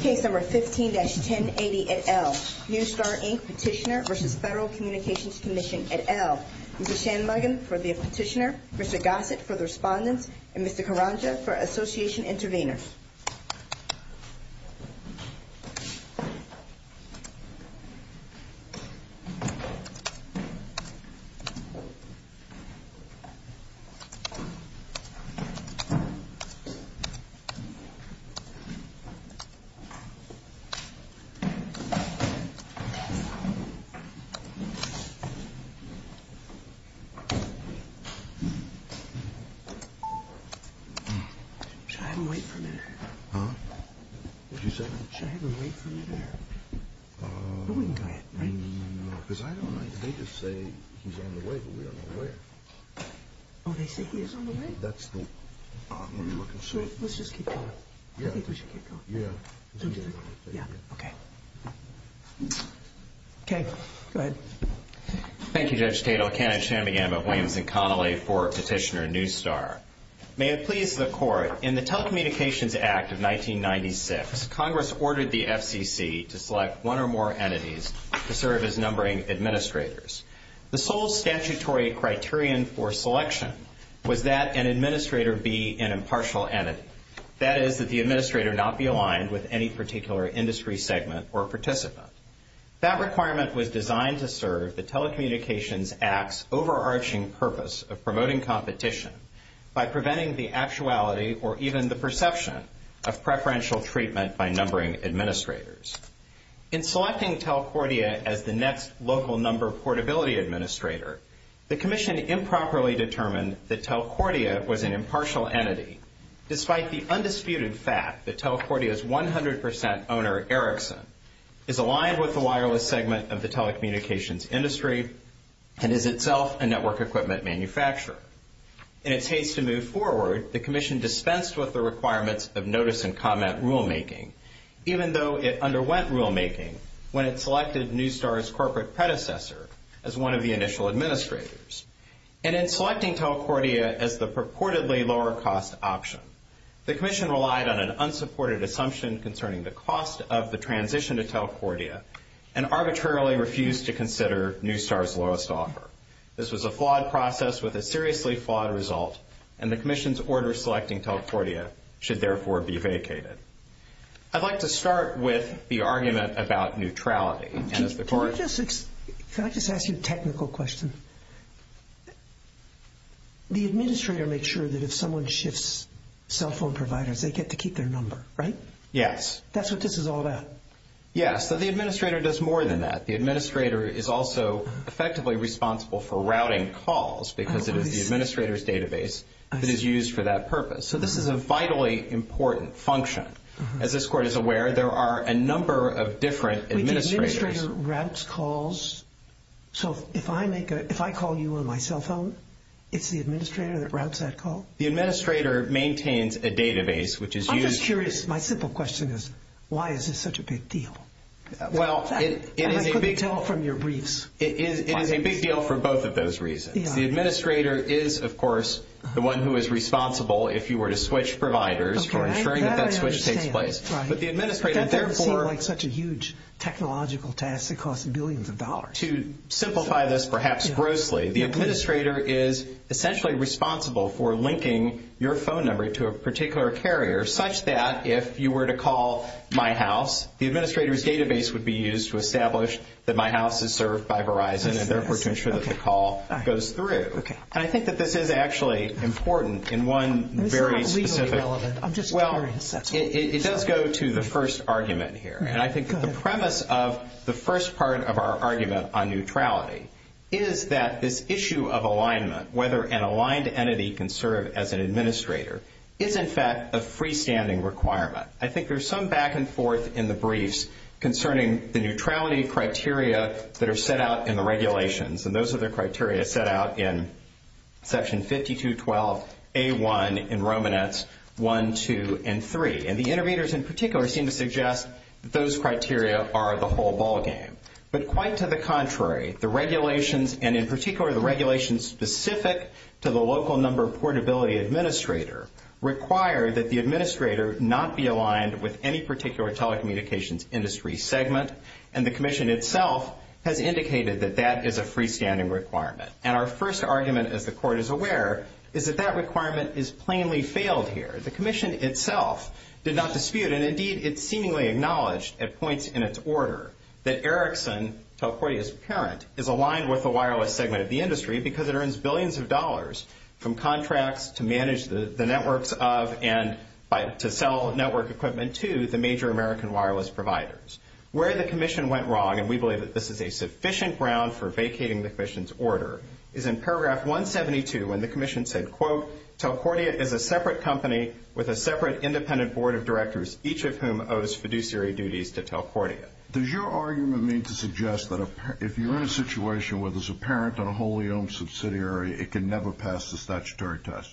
Case No. 15-1080, et al. Neustar, Inc. Petitioner v. Federal Communications Commission, et al. Mr. Shanmugam for the Petitioner, Mr. Gossett for the Respondent, and Mr. Karanja for Association Intervenor. Mr. Shanmugam, Assistant to the Attorney General for the Federal Communications Commission. Should I have him wait for me there? No, because they just say he's on the way, but we don't know where. Oh, they say he is on the way? Let's just keep going. Okay, go ahead. Thank you, Judge Taito. Kenneth Shanmugam of Williams & Connolly for Petitioner News Star. May it please the Court, in the Telecommunications Act of 1996, Congress ordered the FCC to select one or more entities to serve as numbering administrators. The sole statutory criterion for selection was that an administrator be an impartial entity, that is, that the administrator not be aligned with any particular industry segment or participant. That requirement was designed to serve the Telecommunications Act's overarching purpose of promoting competition by preventing the actuality or even the perception of preferential treatment by numbering administrators. In selecting Telcordia as the next local number portability administrator, the Commission improperly determined that Telcordia was an impartial entity, despite the undisputed fact that Telcordia's 100 percent owner, Erickson, is aligned with the wireless segment of the telecommunications industry and is itself a network equipment manufacturer. In its haste to move forward, the Commission dispensed with the requirements of notice and comment rulemaking, even though it underwent rulemaking when it selected News Star's corporate predecessor as one of the initial administrators. And in selecting Telcordia as the purportedly lower-cost option, the Commission relied on an unsupported assumption concerning the cost of the transition to Telcordia and arbitrarily refused to consider News Star's lowest offer. This was a flawed process with a seriously flawed result, and the Commission's order selecting Telcordia should therefore be vacated. I'd like to start with the argument about neutrality. Can I just ask you a technical question? The administrator makes sure that if someone shifts cell phone providers, they get to keep their number, right? Yes. That's what this is all about. Yes, so the administrator does more than that. The administrator is also effectively responsible for routing calls because it is the administrator's database that is used for that purpose. So this is a vitally important function. As this Court is aware, there are a number of different administrators. Wait, the administrator routes calls? So if I call you on my cell phone, it's the administrator that routes that call? The administrator maintains a database, which is used for— I'm just curious. My simple question is, why is this such a big deal? Well, it is a big— I couldn't tell from your briefs. It is a big deal for both of those reasons. The administrator is, of course, the one who is responsible if you were to switch providers for ensuring that that switch takes place. But the administrator, therefore— That would seem like such a huge technological task that costs billions of dollars. To simplify this perhaps grossly, the administrator is essentially responsible for linking your phone number to a particular carrier, such that if you were to call my house, the administrator's database would be used to establish that my house is served by Verizon, and therefore to ensure that the call goes through. And I think that this is actually important in one very specific— This is not legally relevant. I'm just curious. Well, it does go to the first argument here. And I think the premise of the first part of our argument on neutrality is that this issue of alignment, whether an aligned entity can serve as an administrator, is, in fact, a freestanding requirement. I think there's some back and forth in the briefs concerning the neutrality criteria that are set out in the regulations, and those are the criteria set out in Section 5212A1 in Romanetz 1, 2, and 3. And the interveners in particular seem to suggest that those criteria are the whole ballgame. But quite to the contrary, the regulations, and in particular the regulations specific to the local number portability administrator, require that the administrator not be aligned with any particular telecommunications industry segment, and the Commission itself has indicated that that is a freestanding requirement. And our first argument, as the Court is aware, is that that requirement is plainly failed here. The Commission itself did not dispute, and indeed it seemingly acknowledged at points in its order, that Ericsson, Telcordia's parent, is aligned with the wireless segment of the industry because it earns billions of dollars from contracts to manage the networks of and to sell network equipment to the major American wireless providers. Where the Commission went wrong, and we believe that this is a sufficient ground for vacating the Commission's order, is in paragraph 172 when the Commission said, quote, Telcordia is a separate company with a separate independent board of directors, each of whom owes fiduciary duties to Telcordia. Does your argument mean to suggest that if you're in a situation where there's a parent on a wholly owned subsidiary, it can never pass the statutory test?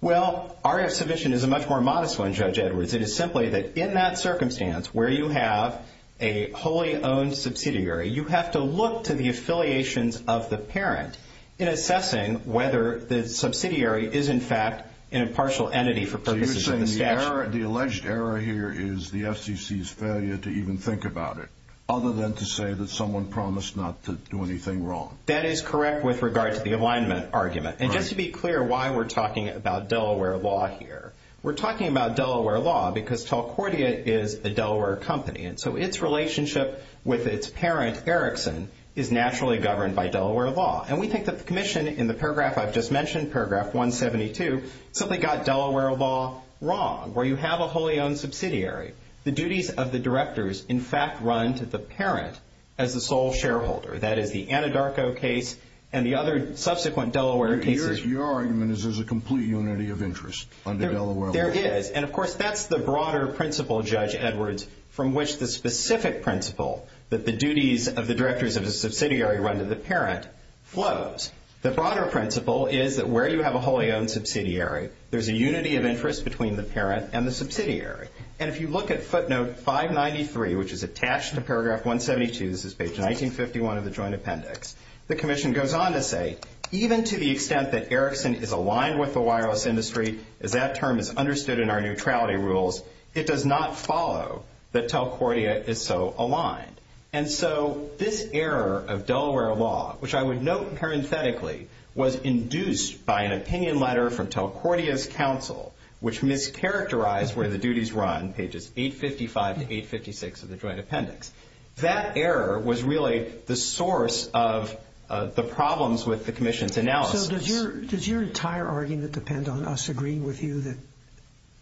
Well, our submission is a much more modest one, Judge Edwards. It is simply that in that circumstance where you have a wholly owned subsidiary, you have to look to the affiliations of the parent in assessing whether the subsidiary is, in fact, an impartial entity for purposes of the statute. So you're saying the alleged error here is the FCC's failure to even think about it, other than to say that someone promised not to do anything wrong? That is correct with regard to the alignment argument. And just to be clear why we're talking about Delaware law here, we're talking about Delaware law because Telcordia is a Delaware company, and so its relationship with its parent, Erickson, is naturally governed by Delaware law. And we think that the commission in the paragraph I've just mentioned, paragraph 172, simply got Delaware law wrong where you have a wholly owned subsidiary. The duties of the directors, in fact, run to the parent as the sole shareholder. That is the Anadarko case and the other subsequent Delaware cases. Your argument is there's a complete unity of interest under Delaware law. There is. And, of course, that's the broader principle, Judge Edwards, from which the specific principle that the duties of the directors of a subsidiary run to the parent flows. The broader principle is that where you have a wholly owned subsidiary, there's a unity of interest between the parent and the subsidiary. And if you look at footnote 593, which is attached to paragraph 172, this is page 1951 of the joint appendix, the commission goes on to say, Even to the extent that Erickson is aligned with the wireless industry, as that term is understood in our neutrality rules, it does not follow that Telcordia is so aligned. And so this error of Delaware law, which I would note parenthetically, was induced by an opinion letter from Telcordia's counsel, which mischaracterized where the duties run, pages 855 to 856 of the joint appendix. That error was really the source of the problems with the commission's analysis. So does your entire argument depend on us agreeing with you that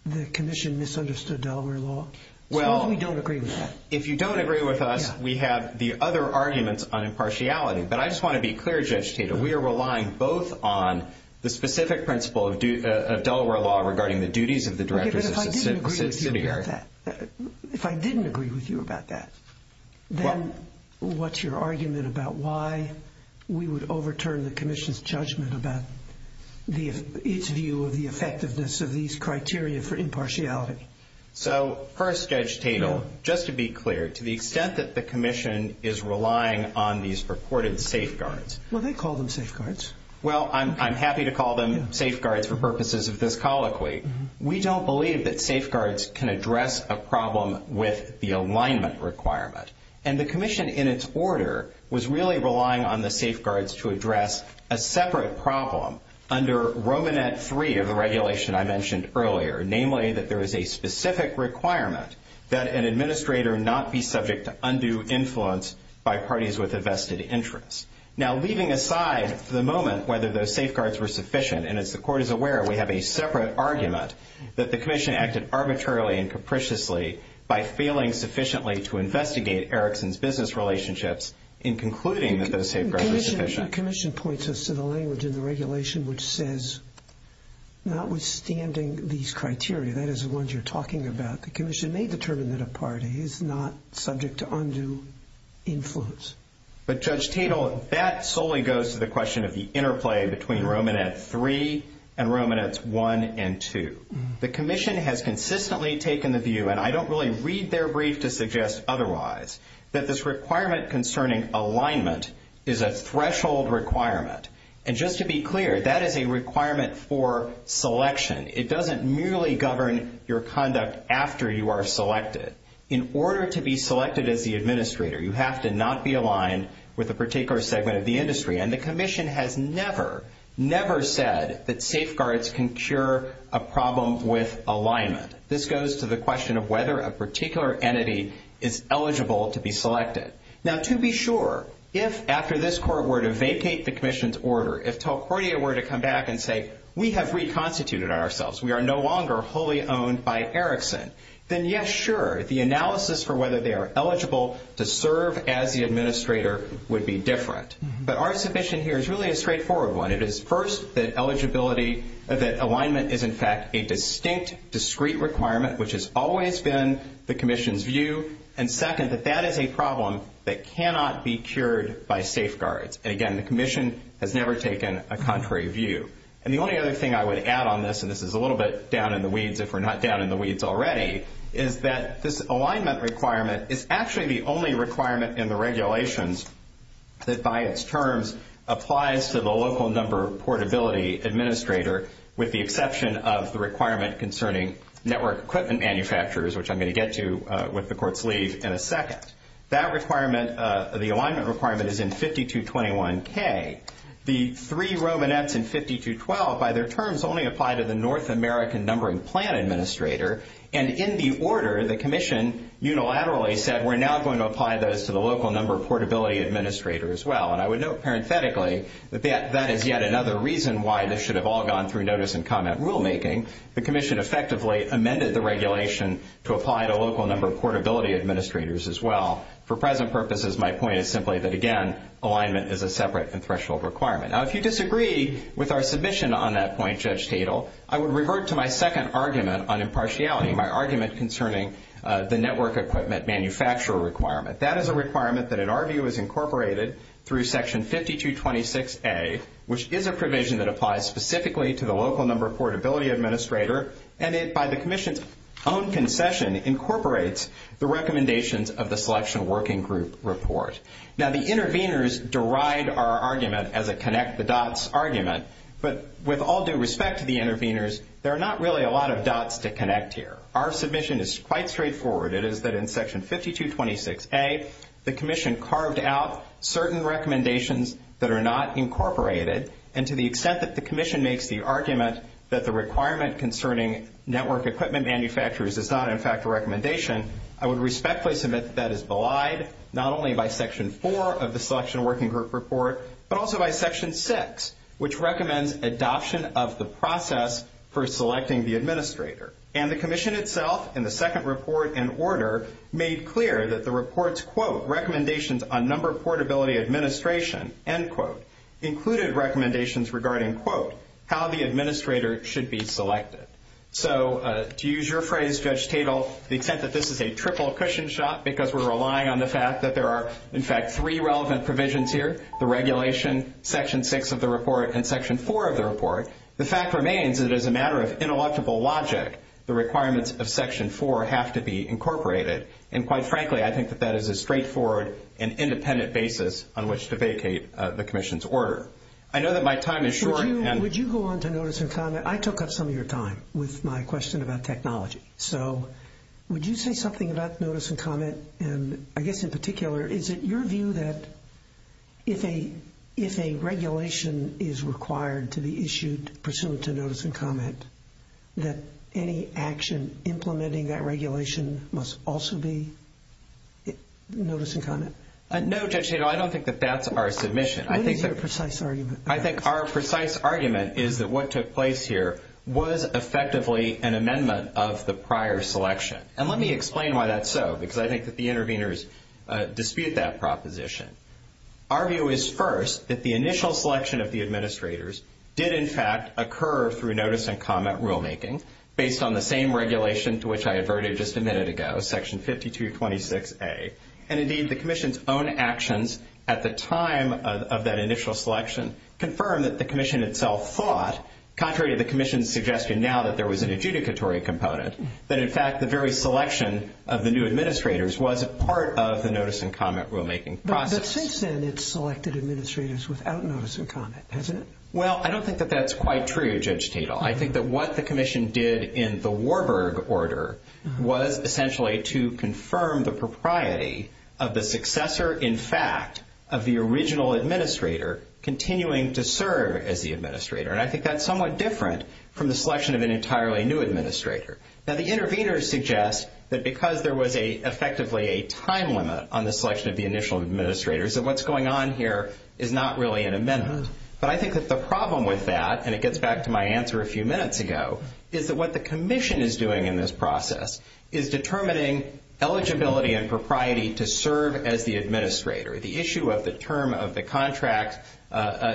the commission misunderstood Delaware law? Suppose we don't agree with that. If you don't agree with us, we have the other arguments on impartiality. But I just want to be clear, Judge Tatum, we are relying both on the specific principle of Delaware law regarding the duties of the directors of a subsidiary. If I didn't agree with you about that, then what's your argument about why we would overturn the commission's judgment about its view of the effectiveness of these criteria for impartiality? So first, Judge Tatum, just to be clear, to the extent that the commission is relying on these purported safeguards. Well, they call them safeguards. Well, I'm happy to call them safeguards for purposes of this colloquy. We don't believe that safeguards can address a problem with the alignment requirement. And the commission in its order was really relying on the safeguards to address a separate problem under Romanet 3 of the regulation I mentioned earlier, namely that there is a specific requirement that an administrator not be subject to undue influence by parties with a vested interest. Now, leaving aside for the moment whether those safeguards were sufficient, and as the Court is aware, we have a separate argument that the commission acted arbitrarily and capriciously by failing sufficiently to investigate Erickson's business relationships in concluding that those safeguards were sufficient. The commission points us to the language in the regulation which says, notwithstanding these criteria, that is the ones you're talking about, the commission may determine that a party is not subject to undue influence. But Judge Tatel, that solely goes to the question of the interplay between Romanet 3 and Romanet 1 and 2. The commission has consistently taken the view, and I don't really read their brief to suggest otherwise, that this requirement concerning alignment is a threshold requirement. And just to be clear, that is a requirement for selection. It doesn't merely govern your conduct after you are selected. In order to be selected as the administrator, you have to not be aligned with a particular segment of the industry. And the commission has never, never said that safeguards can cure a problem with alignment. This goes to the question of whether a particular entity is eligible to be selected. Now, to be sure, if after this Court were to vacate the commission's order, if Talcordia were to come back and say, we have reconstituted ourselves, we are no longer wholly owned by Erickson, then, yes, sure, the analysis for whether they are eligible to serve as the administrator would be different. But our submission here is really a straightforward one. It is, first, that alignment is, in fact, a distinct, discrete requirement, which has always been the commission's view. And, second, that that is a problem that cannot be cured by safeguards. And, again, the commission has never taken a contrary view. And the only other thing I would add on this, and this is a little bit down in the weeds if we're not down in the weeds already, is that this alignment requirement is actually the only requirement in the regulations that, by its terms, applies to the local number portability administrator, with the exception of the requirement concerning network equipment manufacturers, which I'm going to get to with the Court's leave in a second. That requirement, the alignment requirement, is in 5221K. The three Romanets in 5212, by their terms, only apply to the North American numbering plan administrator. And in the order, the commission unilaterally said, we're now going to apply those to the local number portability administrator as well. And I would note, parenthetically, that that is yet another reason why this should have all gone through notice and comment rulemaking. The commission effectively amended the regulation to apply to local number portability administrators as well. For present purposes, my point is simply that, again, alignment is a separate and threshold requirement. Now, if you disagree with our submission on that point, Judge Tatel, I would revert to my second argument on impartiality, my argument concerning the network equipment manufacturer requirement. That is a requirement that, in our view, is incorporated through Section 5226A, which is a provision that applies specifically to the local number portability administrator, and it, by the commission's own concession, incorporates the recommendations of the selection working group report. Now, the interveners deride our argument as a connect-the-dots argument, but with all due respect to the interveners, there are not really a lot of dots to connect here. Our submission is quite straightforward. It is that in Section 5226A, the commission carved out certain recommendations that are not incorporated, and to the extent that the commission makes the argument that the requirement concerning network equipment manufacturers is not, in fact, a recommendation, I would respectfully submit that is belied not only by Section 4 of the selection working group report, but also by Section 6, which recommends adoption of the process for selecting the administrator. And the commission itself, in the second report and order, made clear that the report's, quote, recommendations on number portability administration, end quote, included recommendations regarding, quote, how the administrator should be selected. So to use your phrase, Judge Tatel, the extent that this is a triple cushion shot because we're relying on the fact that there are, in fact, three relevant provisions here, the regulation, Section 6 of the report, and Section 4 of the report, the fact remains that as a matter of intellectual logic, the requirements of Section 4 have to be incorporated. And quite frankly, I think that that is a straightforward and independent basis on which to vacate the commission's order. I know that my time is short. Would you go on to notice and comment? I took up some of your time with my question about technology. So would you say something about notice and comment? And I guess in particular, is it your view that if a regulation is required to be issued pursuant to notice and comment, that any action implementing that regulation must also be notice and comment? No, Judge Tatel, I don't think that that's our submission. What is your precise argument? I think our precise argument is that what took place here was effectively an amendment of the prior selection. And let me explain why that's so, because I think that the interveners dispute that proposition. Our view is first that the initial selection of the administrators did, in fact, occur through notice and comment rulemaking based on the same regulation to which I adverted just a minute ago, Section 5226A. And indeed, the commission's own actions at the time of that initial selection confirmed that the commission itself thought, contrary to the commission's suggestion now that there was an adjudicatory component, that in fact the very selection of the new administrators was a part of the notice and comment rulemaking process. But since then, it's selected administrators without notice and comment, hasn't it? Well, I don't think that that's quite true, Judge Tatel. I think that what the commission did in the Warburg order was essentially to confirm the propriety of the successor, in fact, of the original administrator continuing to serve as the administrator. And I think that's somewhat different from the selection of an entirely new administrator. Now, the interveners suggest that because there was effectively a time limit on the selection of the initial administrators, that what's going on here is not really an amendment. But I think that the problem with that, and it gets back to my answer a few minutes ago, is that what the commission is doing in this process is determining eligibility and propriety to serve as the administrator. The issue of the term of the contract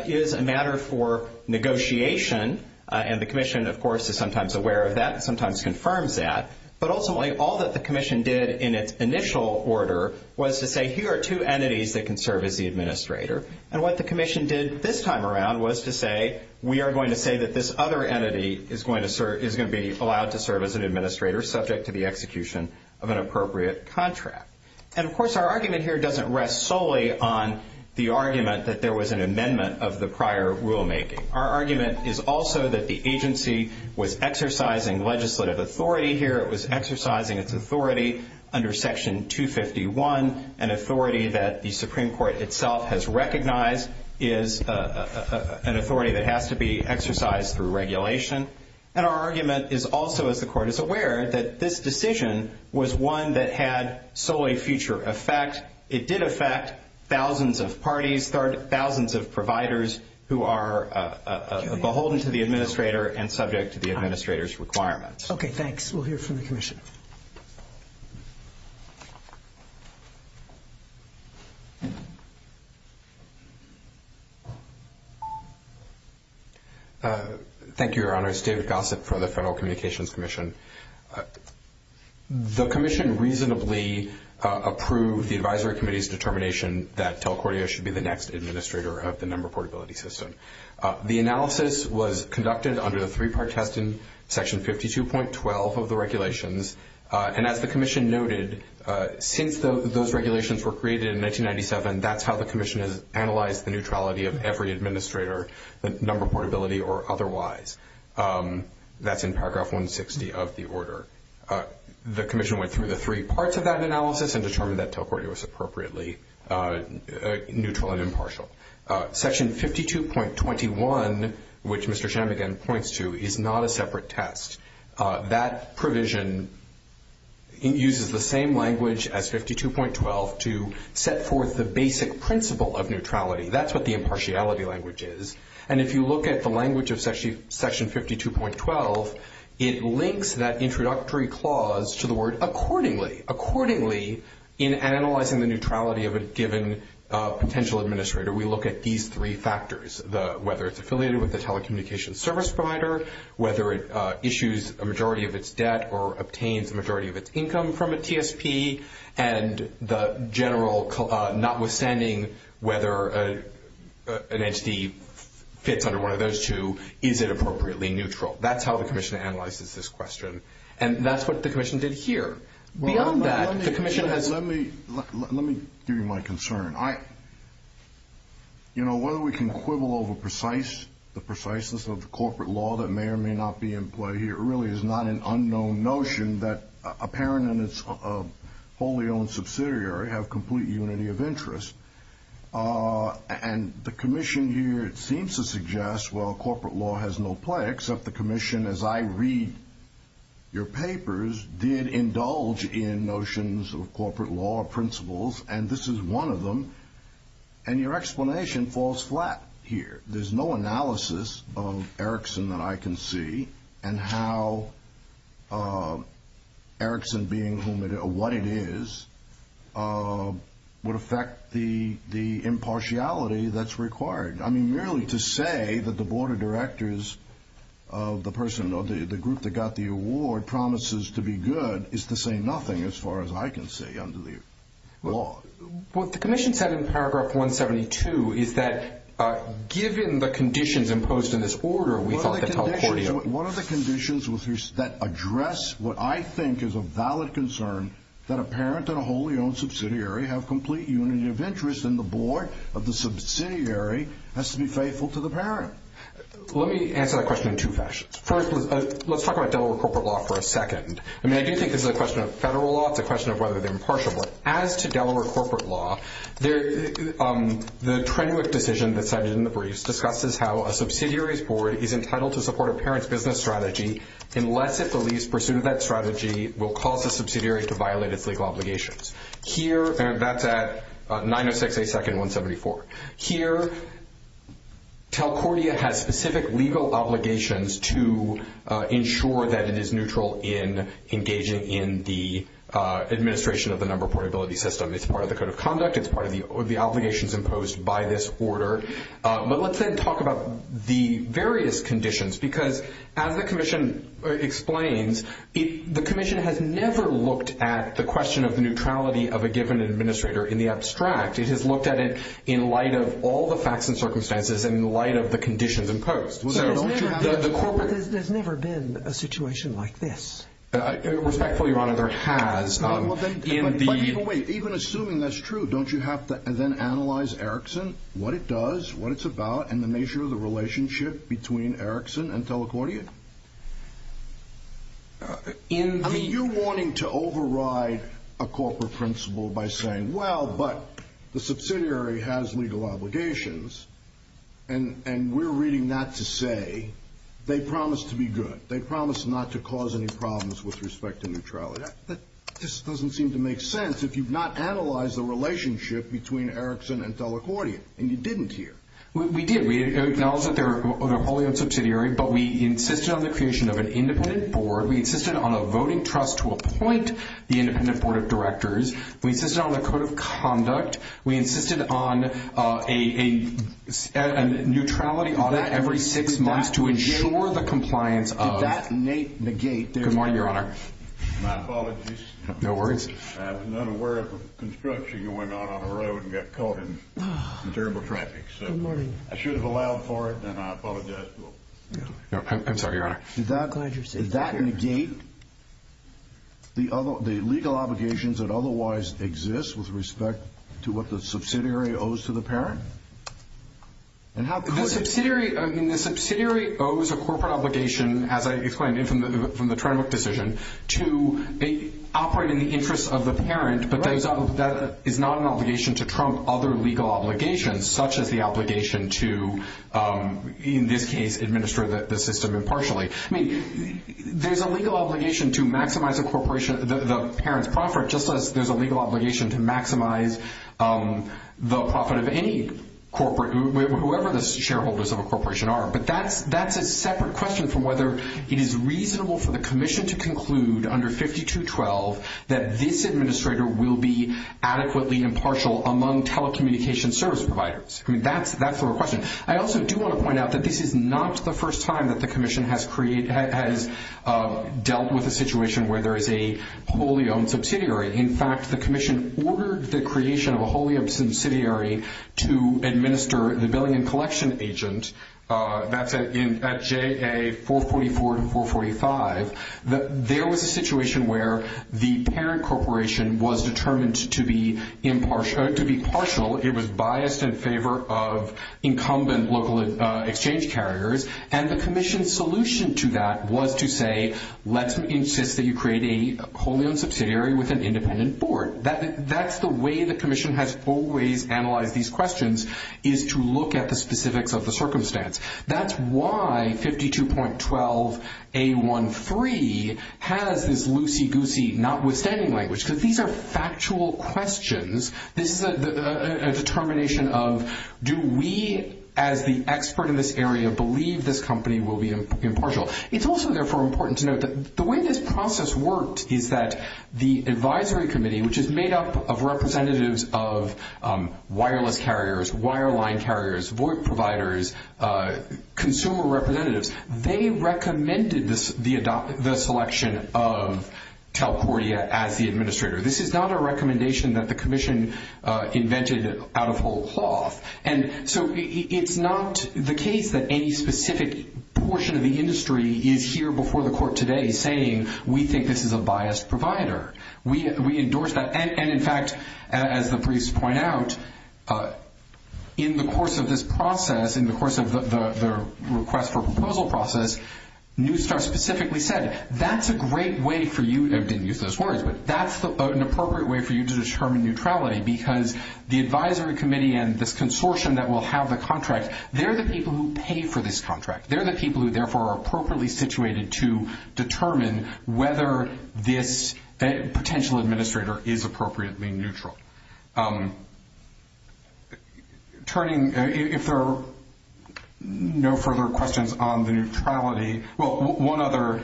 is a matter for negotiation, and the commission, of course, is sometimes aware of that and sometimes confirms that. But ultimately, all that the commission did in its initial order was to say here are two entities that can serve as the administrator. And what the commission did this time around was to say we are going to say that this other entity is going to be allowed to serve as an administrator subject to the execution of an appropriate contract. And, of course, our argument here doesn't rest solely on the argument that there was an amendment of the prior rulemaking. Our argument is also that the agency was exercising legislative authority here. It was exercising its authority under Section 251, an authority that the Supreme Court itself has recognized is an authority that has to be exercised through regulation. And our argument is also, as the Court is aware, that this decision was one that had solely future effect. It did affect thousands of parties, thousands of providers who are beholden to the administrator and subject to the administrator's requirements. Okay, thanks. We'll hear from the commission. Thank you. Thank you, Your Honors. David Gossett from the Federal Communications Commission. The commission reasonably approved the Advisory Committee's determination that Telcordia should be the next administrator of the number portability system. The analysis was conducted under the three-part test in Section 52.12 of the regulations. And as the commission noted, since those regulations were created in 1997, that's how the commission has analyzed the neutrality of every administrator, the number portability or otherwise. That's in Paragraph 160 of the order. The commission went through the three parts of that analysis and determined that Telcordia was appropriately neutral and impartial. Section 52.21, which Mr. Shammigan points to, is not a separate test. That provision uses the same language as 52.12 to set forth the basic principle of neutrality. That's what the impartiality language is. And if you look at the language of Section 52.12, it links that introductory clause to the word accordingly, accordingly in analyzing the neutrality of a given potential administrator. We look at these three factors, whether it's affiliated with the telecommunications service provider, whether it issues a majority of its debt or obtains a majority of its income from a TSP, and the general notwithstanding whether an entity fits under one of those two, is it appropriately neutral? That's how the commission analyzes this question. And that's what the commission did here. Let me give you my concern. You know, whether we can quibble over the preciseness of the corporate law that may or may not be in play here really is not an unknown notion that a parent and its wholly owned subsidiary have complete unity of interest. And the commission here seems to suggest, well, corporate law has no play, except the commission, as I read your papers, did indulge in notions of corporate law principles, and this is one of them, and your explanation falls flat here. There's no analysis of Erickson that I can see, and how Erickson being what it is would affect the impartiality that's required. I mean, merely to say that the board of directors of the person or the group that got the award promises to be good is to say nothing as far as I can see under the law. What the commission said in paragraph 172 is that given the conditions imposed in this order, we thought that telecordial. What are the conditions that address what I think is a valid concern that a parent and a wholly owned subsidiary have complete unity of interest, and the board of the subsidiary has to be faithful to the parent? Let me answer that question in two fashions. First, let's talk about Delaware corporate law for a second. I mean, I do think this is a question of federal law. It's a question of whether they're impartial, but as to Delaware corporate law, the Trenwick decision that's cited in the briefs discusses how a subsidiary's board is entitled to support a parent's business strategy unless it believes pursuit of that strategy will cause the subsidiary to violate its legal obligations. That's at 906A2-174. Here, Telcordia has specific legal obligations to ensure that it is neutral in engaging in the administration of the number portability system. It's part of the code of conduct. It's part of the obligations imposed by this order. But let's then talk about the various conditions because as the commission explains, the commission has never looked at the question of neutrality of a given administrator in the abstract. It has looked at it in light of all the facts and circumstances and in light of the conditions imposed. So there's never been a situation like this? Respectfully, Your Honor, there has. Even assuming that's true, don't you have to then analyze Erickson, what it does, what it's about, and the nature of the relationship between Erickson and Telcordia? I mean, you're wanting to override a corporate principle by saying, well, but the subsidiary has legal obligations, and we're reading that to say they promise to be good. They promise not to cause any problems with respect to neutrality. This doesn't seem to make sense if you've not analyzed the relationship between Erickson and Telcordia, and you didn't here. We did. We acknowledged that they're wholly unsubsidiary, but we insisted on the creation of an independent board. We insisted on a voting trust to appoint the independent board of directors. We insisted on a code of conduct. We insisted on a neutrality audit every six months to ensure the compliance of— Did that negate their— Good morning, Your Honor. My apologies. No worries. I was not aware of the construction that went on on the road and got caught in terrible traffic. Good morning. I should have allowed for it, and I apologize. I'm sorry, Your Honor. Did that negate the legal obligations that otherwise exist with respect to what the subsidiary owes to the parent? The subsidiary owes a corporate obligation, as I explained from the Trenwick decision, to operate in the interest of the parent, but that is not an obligation to trump other legal obligations, such as the obligation to, in this case, administer the system impartially. I mean, there's a legal obligation to maximize a corporation—the parent's profit, just as there's a legal obligation to maximize the profit of any corporate, whoever the shareholders of a corporation are. But that's a separate question from whether it is reasonable for the commission to conclude, under 5212, that this administrator will be adequately impartial among telecommunications service providers. I mean, that's the question. I also do want to point out that this is not the first time that the commission has dealt with a situation where there is a wholly owned subsidiary. In fact, the commission ordered the creation of a wholly owned subsidiary to administer the billing and collection agent. That's at JA444 to 445. There was a situation where the parent corporation was determined to be impartial—to be partial. It was biased in favor of incumbent local exchange carriers, and the commission's solution to that was to say, let's insist that you create a wholly owned subsidiary with an independent board. That's the way the commission has always analyzed these questions, is to look at the specifics of the circumstance. That's why 5212A13 has this loosey-goosey, notwithstanding language, because these are factual questions. This is a determination of, do we, as the expert in this area, believe this company will be impartial? It's also, therefore, important to note that the way this process worked is that the advisory committee, which is made up of representatives of wireless carriers, wireline carriers, VoIP providers, consumer representatives, they recommended the selection of Telcordia as the administrator. This is not a recommendation that the commission invented out of whole cloth. It's not the case that any specific portion of the industry is here before the court today saying, we think this is a biased provider. We endorse that. In fact, as the briefs point out, in the course of this process, in the course of the request for proposal process, Newstar specifically said, that's a great way for you, and I didn't use those words, but that's an appropriate way for you to determine neutrality, because the advisory committee and this consortium that will have the contract, they're the people who pay for this contract. They're the people who, therefore, are appropriately situated to determine whether this potential administrator is appropriately neutral. Turning, if there are no further questions on the neutrality, well, one other,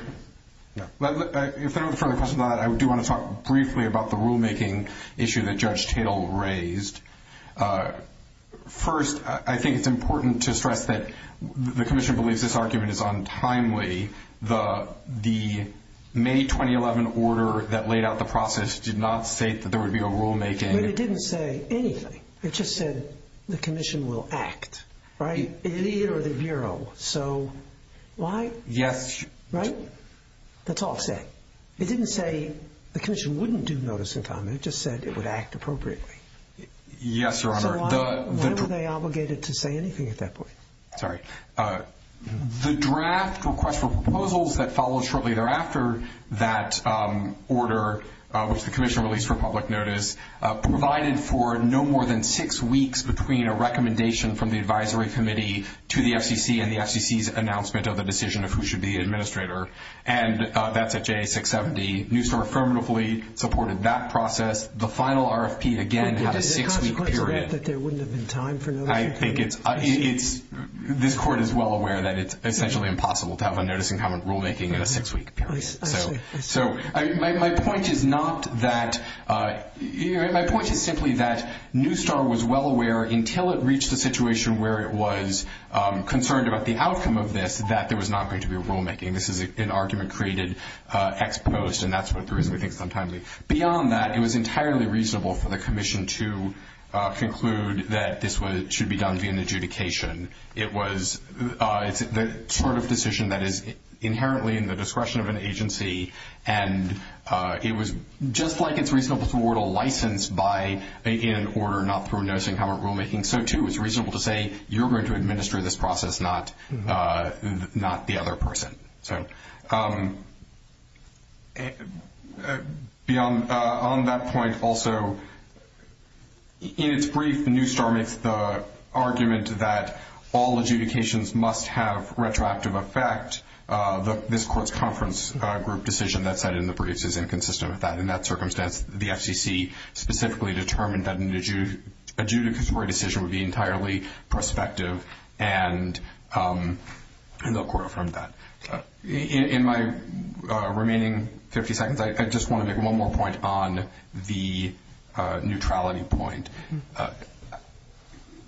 if there are no further questions on that, I do want to talk briefly about the rulemaking issue that Judge Tatel raised. First, I think it's important to stress that the commission believes this argument is untimely. The May 2011 order that laid out the process did not state that there would be a rulemaking. But it didn't say anything. It just said the commission will act, right? It iterated the Bureau, so why? Yes. Right? That's all it said. It didn't say the commission wouldn't do notice in time. It just said it would act appropriately. Yes, Your Honor. So why were they obligated to say anything at that point? Sorry. The draft request for proposals that followed shortly thereafter, that order, which the commission released for public notice, provided for no more than six weeks between a recommendation from the advisory committee to the FCC and the FCC's announcement of the decision of who should be the administrator. And that's at JA 670. Newstart affirmatively supported that process. The final RFP, again, had a six-week period. I think it's – this Court is well aware that it's essentially impossible to have a notice in time rulemaking in a six-week period. So my point is not that – my point is simply that Newstart was well aware, until it reached a situation where it was concerned about the outcome of this, that there was not going to be a rulemaking. This is an argument created ex post, and that's what the reason we think is untimely. Beyond that, it was entirely reasonable for the commission to conclude that this should be done via an adjudication. It was the sort of decision that is inherently in the discretion of an agency, and it was just like it's reasonable to award a license by making an order, not through noticing how it rulemaking. So, too, it's reasonable to say you're going to administer this process, not the other person. Beyond that point, also, in its brief, Newstart makes the argument that all adjudications must have retroactive effect. This Court's conference group decision that's cited in the briefs is inconsistent with that. In that circumstance, the FCC specifically determined that an adjudicatory decision would be entirely prospective, and the Court affirmed that. In my remaining 50 seconds, I just want to make one more point on the neutrality point.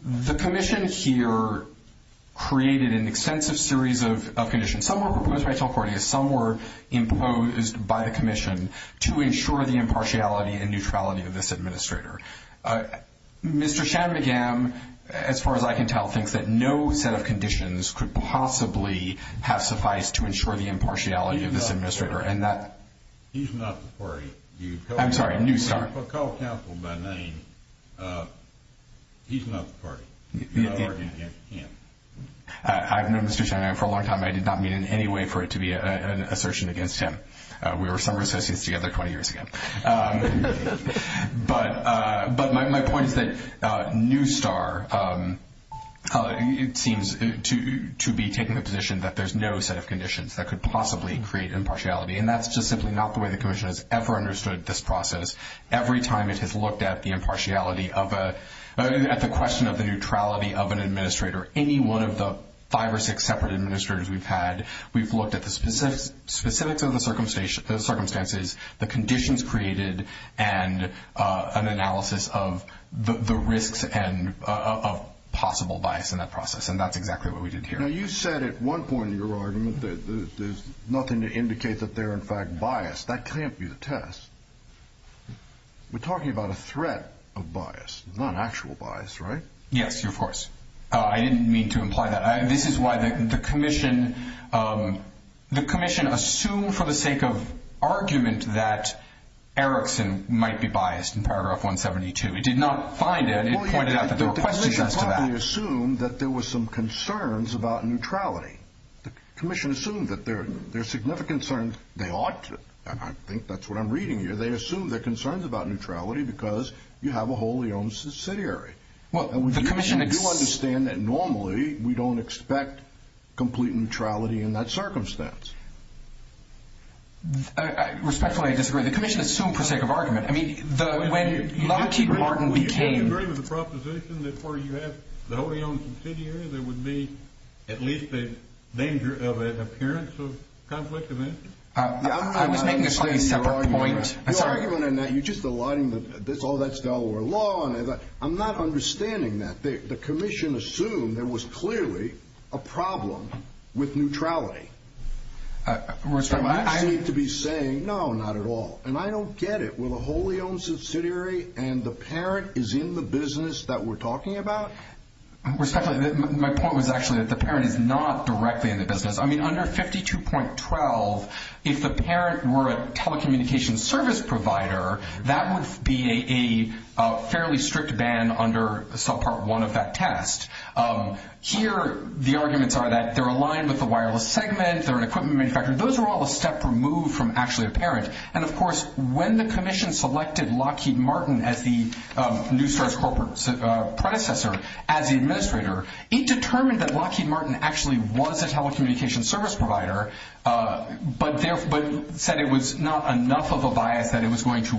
The commission here created an extensive series of conditions. Some were proposed by Telcordia. Some were imposed by the commission to ensure the impartiality and neutrality of this administrator. Mr. Shanmugam, as far as I can tell, thinks that no set of conditions could possibly have sufficed to ensure the impartiality of this administrator. He's not the party. I'm sorry, Newstart. If I call counsel by name, he's not the party. You're arguing against him. I've known Mr. Shanmugam for a long time. I did not mean in any way for it to be an assertion against him. We were summer associates together 20 years ago. But my point is that Newstart seems to be taking the position that there's no set of conditions that could possibly create impartiality, and that's just simply not the way the commission has ever understood this process. Every time it has looked at the question of the neutrality of an administrator, any one of the five or six separate administrators we've had, we've looked at the specifics of the circumstances, the conditions created, and an analysis of the risks of possible bias in that process, and that's exactly what we did here. Now, you said at one point in your argument that there's nothing to indicate that they're, in fact, biased. That can't be the test. We're talking about a threat of bias, not actual bias, right? Yes, of course. I didn't mean to imply that. This is why the commission assumed for the sake of argument that Erickson might be biased in paragraph 172. It did not find it. It pointed out that there were questions as to that. The commission probably assumed that there were some concerns about neutrality. The commission assumed that there are significant concerns. They ought to. I think that's what I'm reading here. They assumed there are concerns about neutrality because you have a wholly owned subsidiary. We do understand that normally we don't expect complete neutrality in that circumstance. Respectfully, I disagree. The commission assumed for the sake of argument. I mean, when Lockheed Martin became— Do you agree with the proposition that where you have the wholly owned subsidiary, there would be at least a danger of an appearance of conflict of interest? I was making a slightly separate point. You're arguing that you're just aligning that all that's Delaware law. I'm not understanding that. The commission assumed there was clearly a problem with neutrality. Respectfully, I— You seem to be saying, no, not at all, and I don't get it. Well, a wholly owned subsidiary and the parent is in the business that we're talking about? Respectfully, my point was actually that the parent is not directly in the business. I mean, under 52.12, if the parent were a telecommunications service provider, that would be a fairly strict ban under subpart one of that test. Here, the arguments are that they're aligned with the wireless segment, they're an equipment manufacturer. Those are all a step removed from actually a parent. And, of course, when the commission selected Lockheed Martin as the Newstar's corporate predecessor as the administrator, it determined that Lockheed Martin actually was a telecommunications service provider, but said it was not enough of a bias that it was going to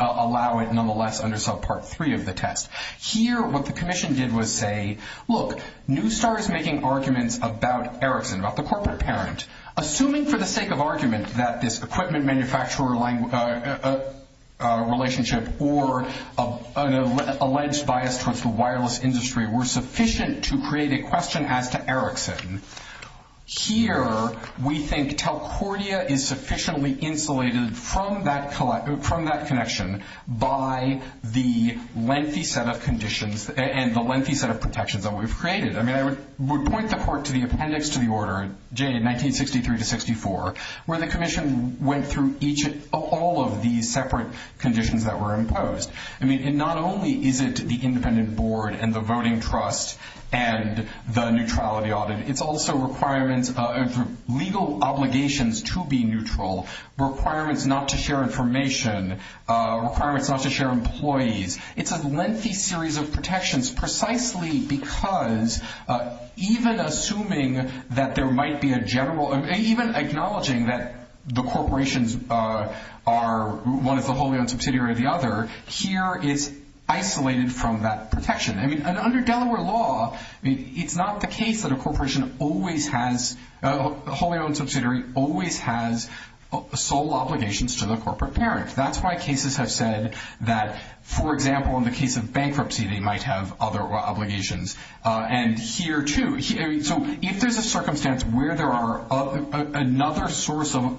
allow it nonetheless under subpart three of the test. Here, what the commission did was say, look, Newstar is making arguments about Erickson, about the corporate parent. Assuming for the sake of argument that this equipment manufacturer relationship or an alleged bias towards the wireless industry were sufficient to create a question as to Erickson, here we think Telcordia is sufficiently insulated from that connection by the lengthy set of conditions and the lengthy set of protections that we've created. I mean, I would point the court to the appendix to the order, J, 1963 to 64, where the commission went through all of these separate conditions that were imposed. I mean, and not only is it the independent board and the voting trust and the neutrality audit, it's also requirements of legal obligations to be neutral, requirements not to share information, requirements not to share employees. It's a lengthy series of protections precisely because even assuming that there might be a general, even acknowledging that the corporations are one of the wholly-owned subsidiary of the other, here is isolated from that protection. I mean, under Delaware law, it's not the case that a corporation always has, a wholly-owned subsidiary always has sole obligations to the corporate parent. That's why cases have said that, for example, in the case of bankruptcy, they might have other obligations. And here, too, so if there's a circumstance where there are another source of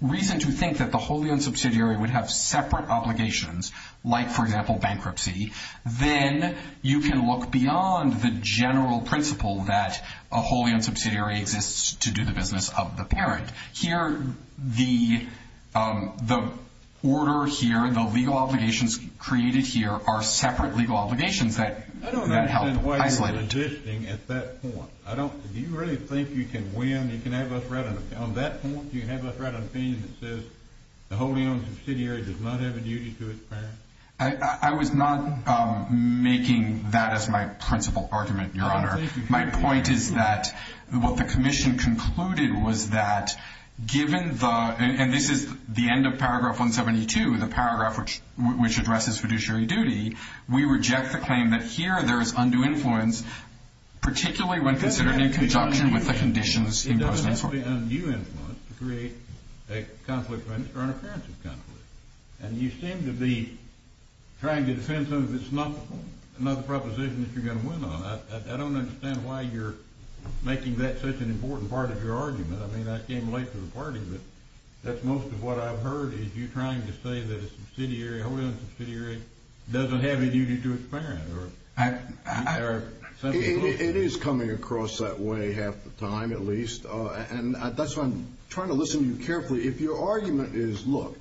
reason to think that the wholly-owned subsidiary would have separate obligations, like, for example, bankruptcy, then you can look beyond the general principle that a wholly-owned subsidiary exists to do the business of the parent. Here, the order here, the legal obligations created here are separate legal obligations that help isolate it. I don't understand why you're resisting at that point. Do you really think you can win? You can have us write an opinion on that point? You can have us write an opinion that says the wholly-owned subsidiary does not have a duty to its parent? I was not making that as my principal argument, Your Honor. My point is that what the commission concluded was that, given the – and this is the end of Paragraph 172, the paragraph which addresses fiduciary duty, we reject the claim that here there is undue influence, particularly when considered in conjunction with the conditions imposed in court. It doesn't have to be undue influence to create a conflict of interest or an appearance of conflict. And you seem to be trying to defend something that's not the proposition that you're going to win on. I don't understand why you're making that such an important part of your argument. I mean, I came late to the party, but that's most of what I've heard is you trying to say that a wholly-owned subsidiary doesn't have a duty to its parent. It is coming across that way half the time at least, and that's why I'm trying to listen to you carefully. If your argument is, look,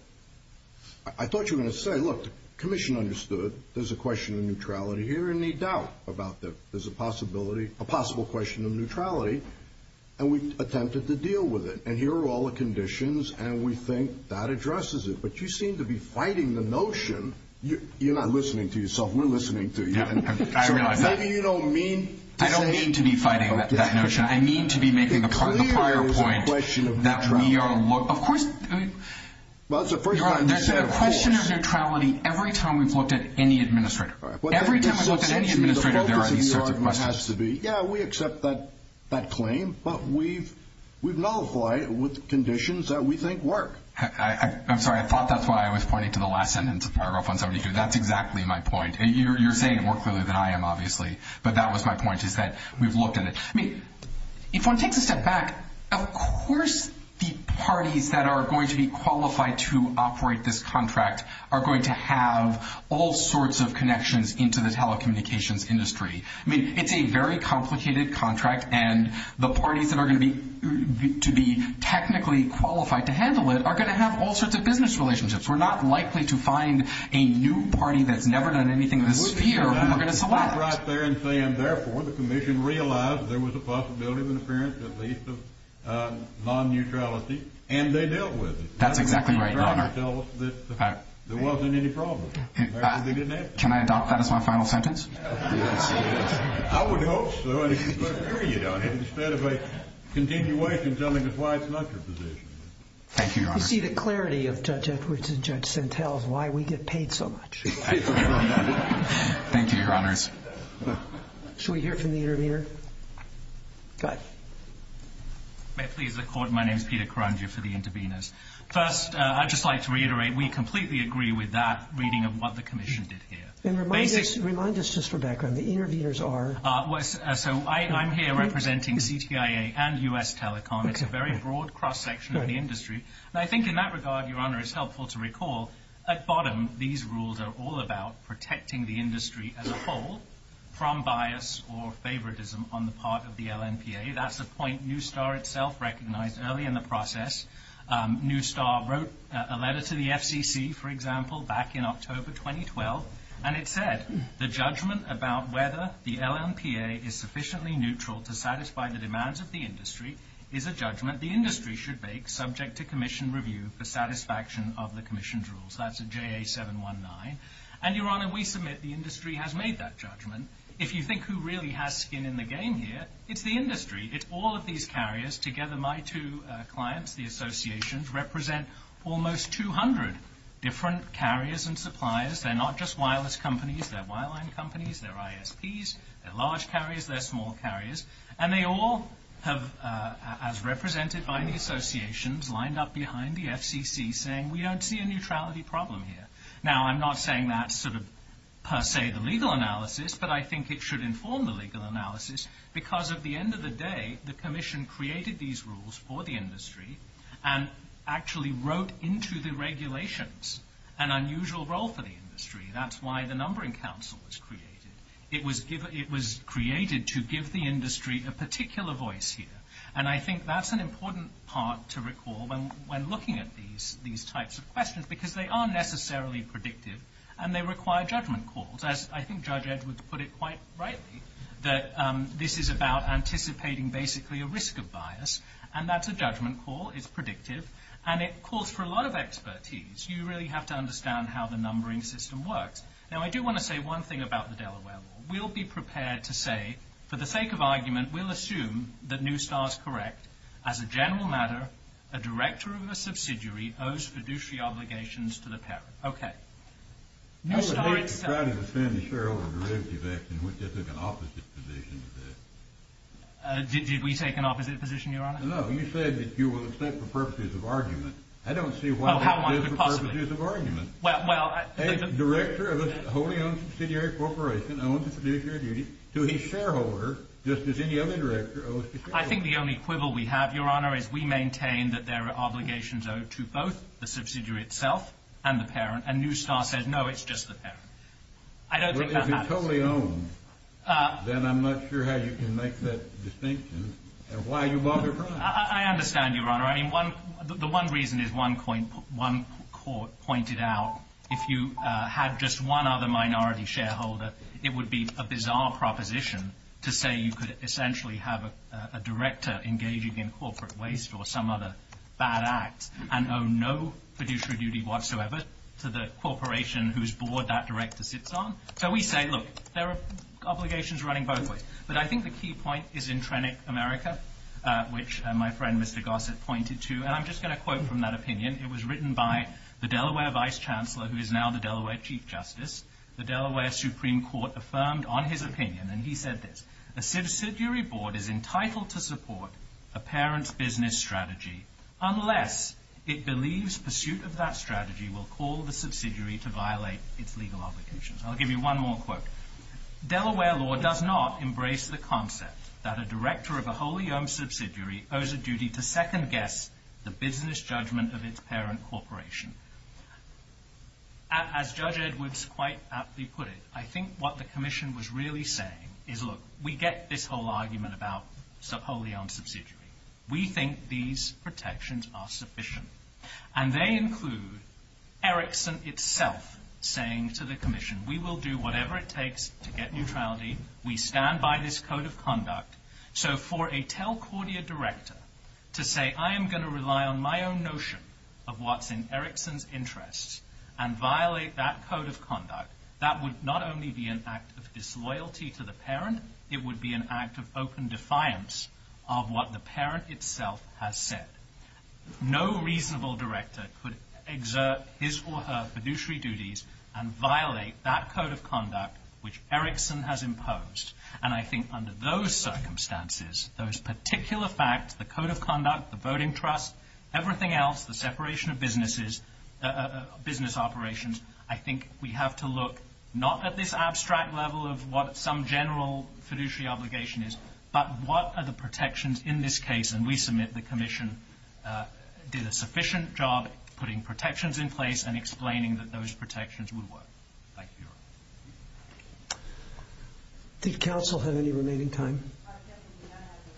I thought you were going to say, look, the commission understood there's a question of neutrality here and they doubt about that there's a possibility – a possible question of neutrality, and we attempted to deal with it. And here are all the conditions, and we think that addresses it. But you seem to be fighting the notion – you're not listening to yourself. We're listening to you. I realize that. So maybe you don't mean to say – I don't mean to be fighting that notion. I mean to be making the prior point that we are – It clearly is a question of neutrality. Of course – Well, it's the first time you've said it, of course. There's a question of neutrality every time we've looked at any administrator. Every time we've looked at any administrator, there are these sorts of questions. The focus of the argument has to be, yeah, we accept that claim, but we've nullified it with conditions that we think work. I'm sorry. I thought that's why I was pointing to the last sentence of paragraph 172. That's exactly my point. You're saying it more clearly than I am, obviously, but that was my point, is that we've looked at it. If one takes a step back, of course the parties that are going to be qualified to operate this contract are going to have all sorts of connections into the telecommunications industry. It's a very complicated contract, and the parties that are going to be technically qualified to handle it are going to have all sorts of business relationships. We're not likely to find a new party that's never done anything in this sphere who we're going to select. I was right there in saying, therefore, the commission realized there was a possibility of an appearance, at least, of non-neutrality, and they dealt with it. That's exactly right, Your Honor. That's what the contract tells us, that there wasn't any problem. Can I adopt that as my final sentence? I would hope so, and it's a good period on it, instead of a continuation telling us why it's not your position. Thank you, Your Honor. You see the clarity of Judge Edwards and Judge Sentell is why we get paid so much. Thank you, Your Honors. Should we hear from the intervener? Go ahead. May it please the Court, my name is Peter Karandjian for the interveners. First, I'd just like to reiterate we completely agree with that reading of what the commission did here. Remind us just for background, the interveners are? I'm here representing CTIA and U.S. Telecom. It's a very broad cross-section of the industry. I think in that regard, Your Honor, it's helpful to recall at bottom these rules are all about protecting the industry as a whole from bias or favoritism on the part of the LNPA. That's a point Newstar itself recognized early in the process. Newstar wrote a letter to the FCC, for example, back in October 2012, and it said the judgment about whether the LNPA is sufficiently neutral to satisfy the demands of the industry is a judgment the industry should make subject to commission review for satisfaction of the commission's rules. That's a JA-719. And, Your Honor, we submit the industry has made that judgment. If you think who really has skin in the game here, it's the industry. It's all of these carriers. Together, my two clients, the associations, represent almost 200 different carriers and suppliers. They're not just wireless companies. They're wireline companies. They're ISPs. They're large carriers. They're small carriers. And they all have, as represented by the associations, lined up behind the FCC saying, We don't see a neutrality problem here. Now, I'm not saying that's sort of per se the legal analysis, but I think it should inform the legal analysis because, at the end of the day, the commission created these rules for the industry and actually wrote into the regulations an unusual role for the industry. That's why the Numbering Council was created. It was created to give the industry a particular voice here. And I think that's an important part to recall when looking at these types of questions because they are necessarily predictive and they require judgment calls. As I think Judge Edwards put it quite rightly, that this is about anticipating basically a risk of bias. And that's a judgment call. It's predictive. And it calls for a lot of expertise. You really have to understand how the numbering system works. Now, I do want to say one thing about the Delaware law. We'll be prepared to say, for the sake of argument, we'll assume that Neustar's correct. As a general matter, a director of a subsidiary owes fiduciary obligations to the parent. Neustar itself. I would hate to try to defend the shareholder derivative act in which they took an opposite position to that. Did we take an opposite position, Your Honor? No. You said that you will accept for purposes of argument. I don't see why that is for purposes of argument. A director of a wholly owned subsidiary corporation owes a fiduciary duty to his shareholder just as any other director owes to his shareholder. I think the only quibble we have, Your Honor, is we maintain that there are obligations owed to both the subsidiary itself and the parent. And Neustar says, no, it's just the parent. I don't think that happens. Well, if it's wholly owned, then I'm not sure how you can make that distinction and why you bother trying. I understand, Your Honor. I mean, the one reason is one court pointed out if you had just one other minority shareholder, it would be a bizarre proposition to say you could essentially have a director engaging in corporate waste or some other bad act and owe no fiduciary duty whatsoever to the corporation whose board that director sits on. So we say, look, there are obligations running both ways. But I think the key point is in Trenick, America, which my friend Mr. Gossett pointed to. And I'm just going to quote from that opinion. It was written by the Delaware vice chancellor, who is now the Delaware chief justice. The Delaware Supreme Court affirmed on his opinion, and he said this, a subsidiary board is entitled to support a parent's business strategy unless it believes pursuit of that strategy will call the subsidiary to violate its legal obligations. I'll give you one more quote. Delaware law does not embrace the concept that a director of a wholly owned subsidiary owes a duty to second guess the business judgment of its parent corporation. As Judge Edwards quite aptly put it, I think what the commission was really saying is, look, we get this whole argument about wholly owned subsidiary. We think these protections are sufficient. And they include Erickson itself saying to the commission, we will do whatever it takes to get neutrality. We stand by this code of conduct. So for a Telcordia director to say, I am going to rely on my own notion of what's in Erickson's interests and violate that code of conduct, that would not only be an act of disloyalty to the parent, it would be an act of open defiance of what the parent itself has said. No reasonable director could exert his or her fiduciary duties and violate that code of conduct which Erickson has imposed. And I think under those circumstances, those particular facts, the code of conduct, the voting trust, everything else, the separation of business operations, I think we have to look not at this abstract level of what some general fiduciary obligation is, but what are the protections in this case? And we submit the commission did a sufficient job putting protections in place and explaining that those protections would work. Thank you. Did counsel have any remaining time?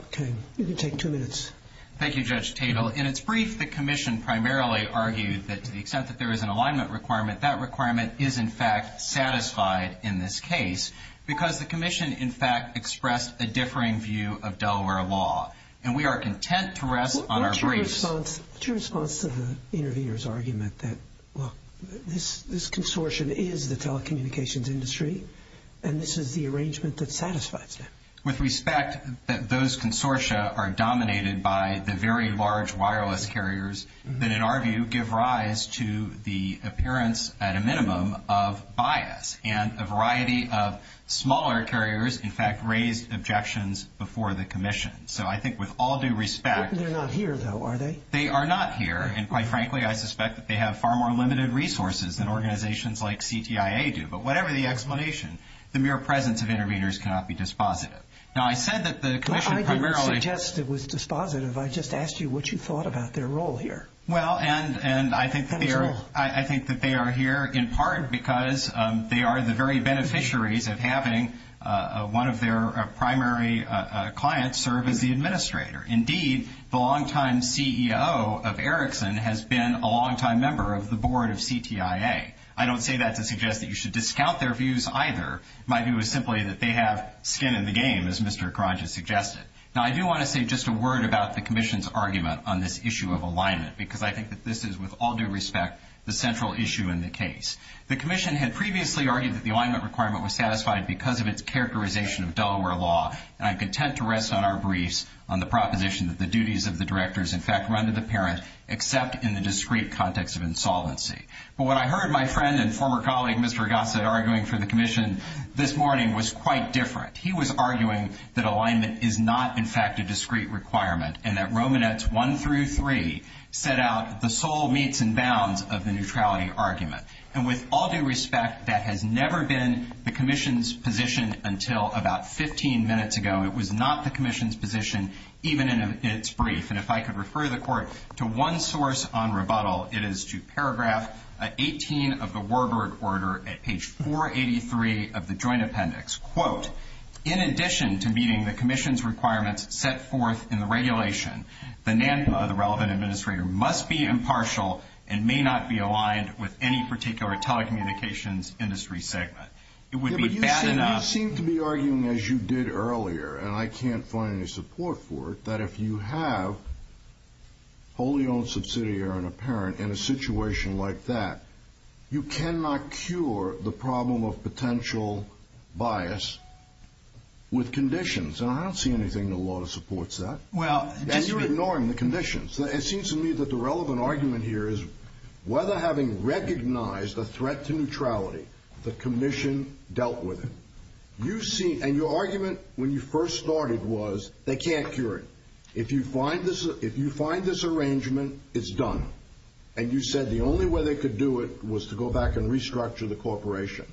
Okay. You can take two minutes. Thank you, Judge Tatel. In its brief, the commission primarily argued that to the extent that there is an alignment requirement, that requirement is in fact satisfied in this case because the commission in fact expressed a differing view of Delaware law. And we are content to rest on our brace. What's your response to the intervener's argument that, look, this consortium is the telecommunications industry, and this is the arrangement that satisfies them? With respect, those consortia are dominated by the very large wireless carriers that, in our view, give rise to the appearance, at a minimum, of bias. And a variety of smaller carriers, in fact, raised objections before the commission. So I think with all due respect. They're not here, though, are they? They are not here. And quite frankly, I suspect that they have far more limited resources than organizations like CTIA do. But whatever the explanation, the mere presence of interveners cannot be dispositive. Now, I said that the commission primarily. I didn't suggest it was dispositive. I just asked you what you thought about their role here. Well, and I think that they are here in part because they are the very beneficiaries of having one of their primary clients serve as the administrator. Indeed, the longtime CEO of Ericsson has been a longtime member of the board of CTIA. I don't say that to suggest that you should discount their views either. My view is simply that they have skin in the game, as Mr. Karanja suggested. Now, I do want to say just a word about the commission's argument on this issue of alignment, because I think that this is, with all due respect, the central issue in the case. The commission had previously argued that the alignment requirement was satisfied because of its characterization of Delaware law, and I'm content to rest on our briefs on the proposition that the duties of the directors, in fact, run to the parent except in the discrete context of insolvency. But what I heard my friend and former colleague, Mr. Gossett, arguing for the commission this morning was quite different. He was arguing that alignment is not, in fact, a discrete requirement and that Romanetz 1 through 3 set out the sole meets and bounds of the neutrality argument. And with all due respect, that has never been the commission's position until about 15 minutes ago. It was not the commission's position even in its brief. And if I could refer the court to one source on rebuttal, it is to paragraph 18 of the Warburg order at page 483 of the joint appendix. Quote, in addition to meeting the commission's requirements set forth in the regulation, the NANPA, the relevant administrator, must be impartial and may not be aligned with any particular telecommunications industry segment. It would be bad enough. You seem to be arguing, as you did earlier, and I can't find any support for it, that if you have wholly owned subsidiary or an apparent in a situation like that, you cannot cure the problem of potential bias with conditions. And I don't see anything in the law that supports that. And you're ignoring the conditions. It seems to me that the relevant argument here is whether having recognized a threat to neutrality, the commission dealt with it. And your argument when you first started was they can't cure it. If you find this arrangement, it's done. And you said the only way they could do it was to go back and restructure the corporation.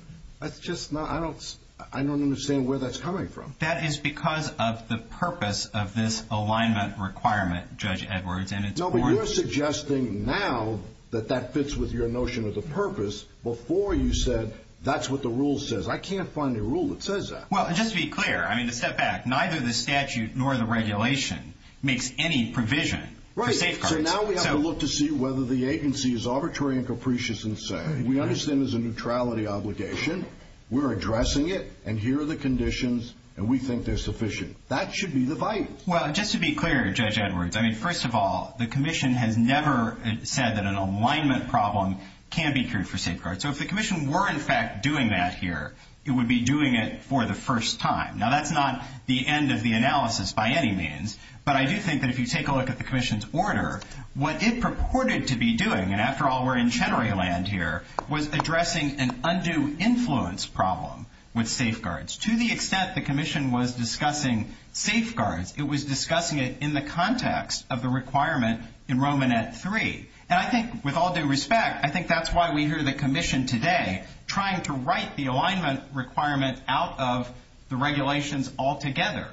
I don't understand where that's coming from. That is because of the purpose of this alignment requirement, Judge Edwards. No, but you're suggesting now that that fits with your notion of the purpose before you said that's what the rule says. I can't find a rule that says that. Well, just to be clear, I mean, to step back, neither the statute nor the regulation makes any provision for safeguards. Right, so now we have to look to see whether the agency is arbitrary and capricious in saying we understand there's a neutrality obligation, we're addressing it, and here are the conditions, and we think they're sufficient. That should be the vital. Well, just to be clear, Judge Edwards, I mean, first of all, the commission has never said that an alignment problem can be cured for safeguards. So if the commission were, in fact, doing that here, it would be doing it for the first time. Now, that's not the end of the analysis by any means, but I do think that if you take a look at the commission's order, what it purported to be doing, and after all, we're in Chenery Land here, was addressing an undue influence problem with safeguards. To the extent the commission was discussing safeguards, it was discussing it in the context of the requirement in Romanette 3. And I think with all due respect, I think that's why we hear the commission today trying to write the alignment requirement out of the regulations altogether.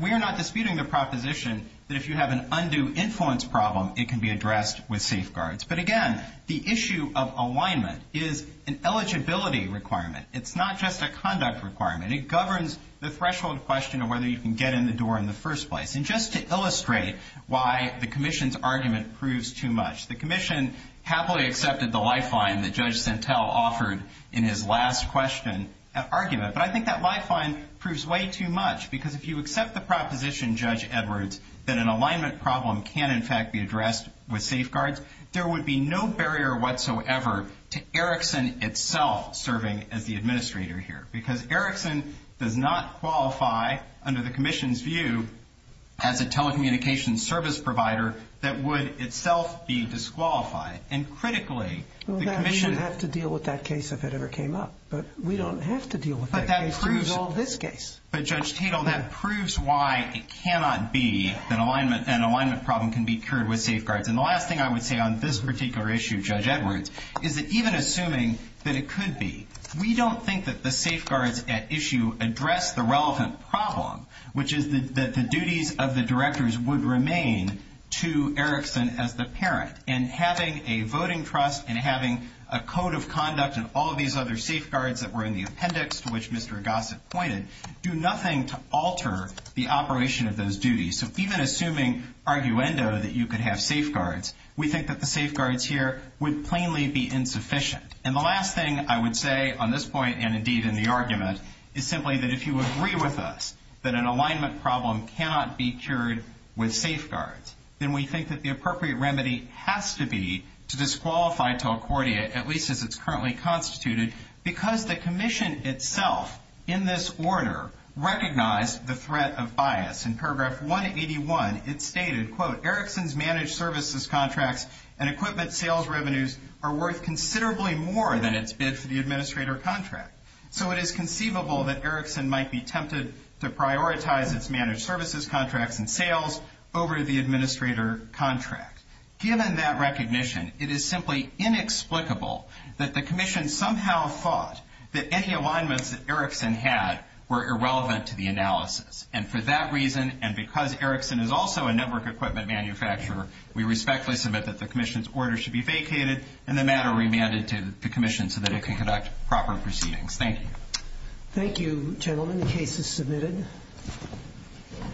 We are not disputing the proposition that if you have an undue influence problem, it can be addressed with safeguards. But again, the issue of alignment is an eligibility requirement. It's not just a conduct requirement. It governs the threshold question of whether you can get in the door in the first place. And just to illustrate why the commission's argument proves too much, the commission happily accepted the lifeline that Judge Santel offered in his last question argument. But I think that lifeline proves way too much because if you accept the proposition, Judge Edwards, that an alignment problem can, in fact, be addressed with safeguards, there would be no barrier whatsoever to Erickson itself serving as the administrator here because Erickson does not qualify under the commission's view as a telecommunications service provider that would itself be disqualified. And critically, the commission… Well, then we wouldn't have to deal with that case if it ever came up. But we don't have to deal with that case to resolve this case. But, Judge Tatel, that proves why it cannot be that an alignment problem can be cured with safeguards. And the last thing I would say on this particular issue, Judge Edwards, is that even assuming that it could be, we don't think that the safeguards at issue address the relevant problem, which is that the duties of the directors would remain to Erickson as the parent. And having a voting trust and having a code of conduct and all these other safeguards that were in the appendix, to which Mr. Gossett pointed, do nothing to alter the operation of those duties. So even assuming arguendo that you could have safeguards, we think that the safeguards here would plainly be insufficient. And the last thing I would say on this point, and indeed in the argument, is simply that if you agree with us that an alignment problem cannot be cured with safeguards, then we think that the appropriate remedy has to be to disqualify Talcordia, at least as it's currently constituted, because the commission itself, in this order, recognized the threat of bias. In paragraph 181, it stated, quote, Erickson's managed services contracts and equipment sales revenues are worth considerably more than its bid for the administrator contract. So it is conceivable that Erickson might be tempted to prioritize its managed services contracts and sales over the administrator contract. Given that recognition, it is simply inexplicable that the commission somehow thought that any alignments that Erickson had were irrelevant to the analysis. And for that reason, and because Erickson is also a network equipment manufacturer, we respectfully submit that the commission's order should be vacated and the matter remanded to the commission so that it can conduct proper proceedings. Thank you. The case is submitted.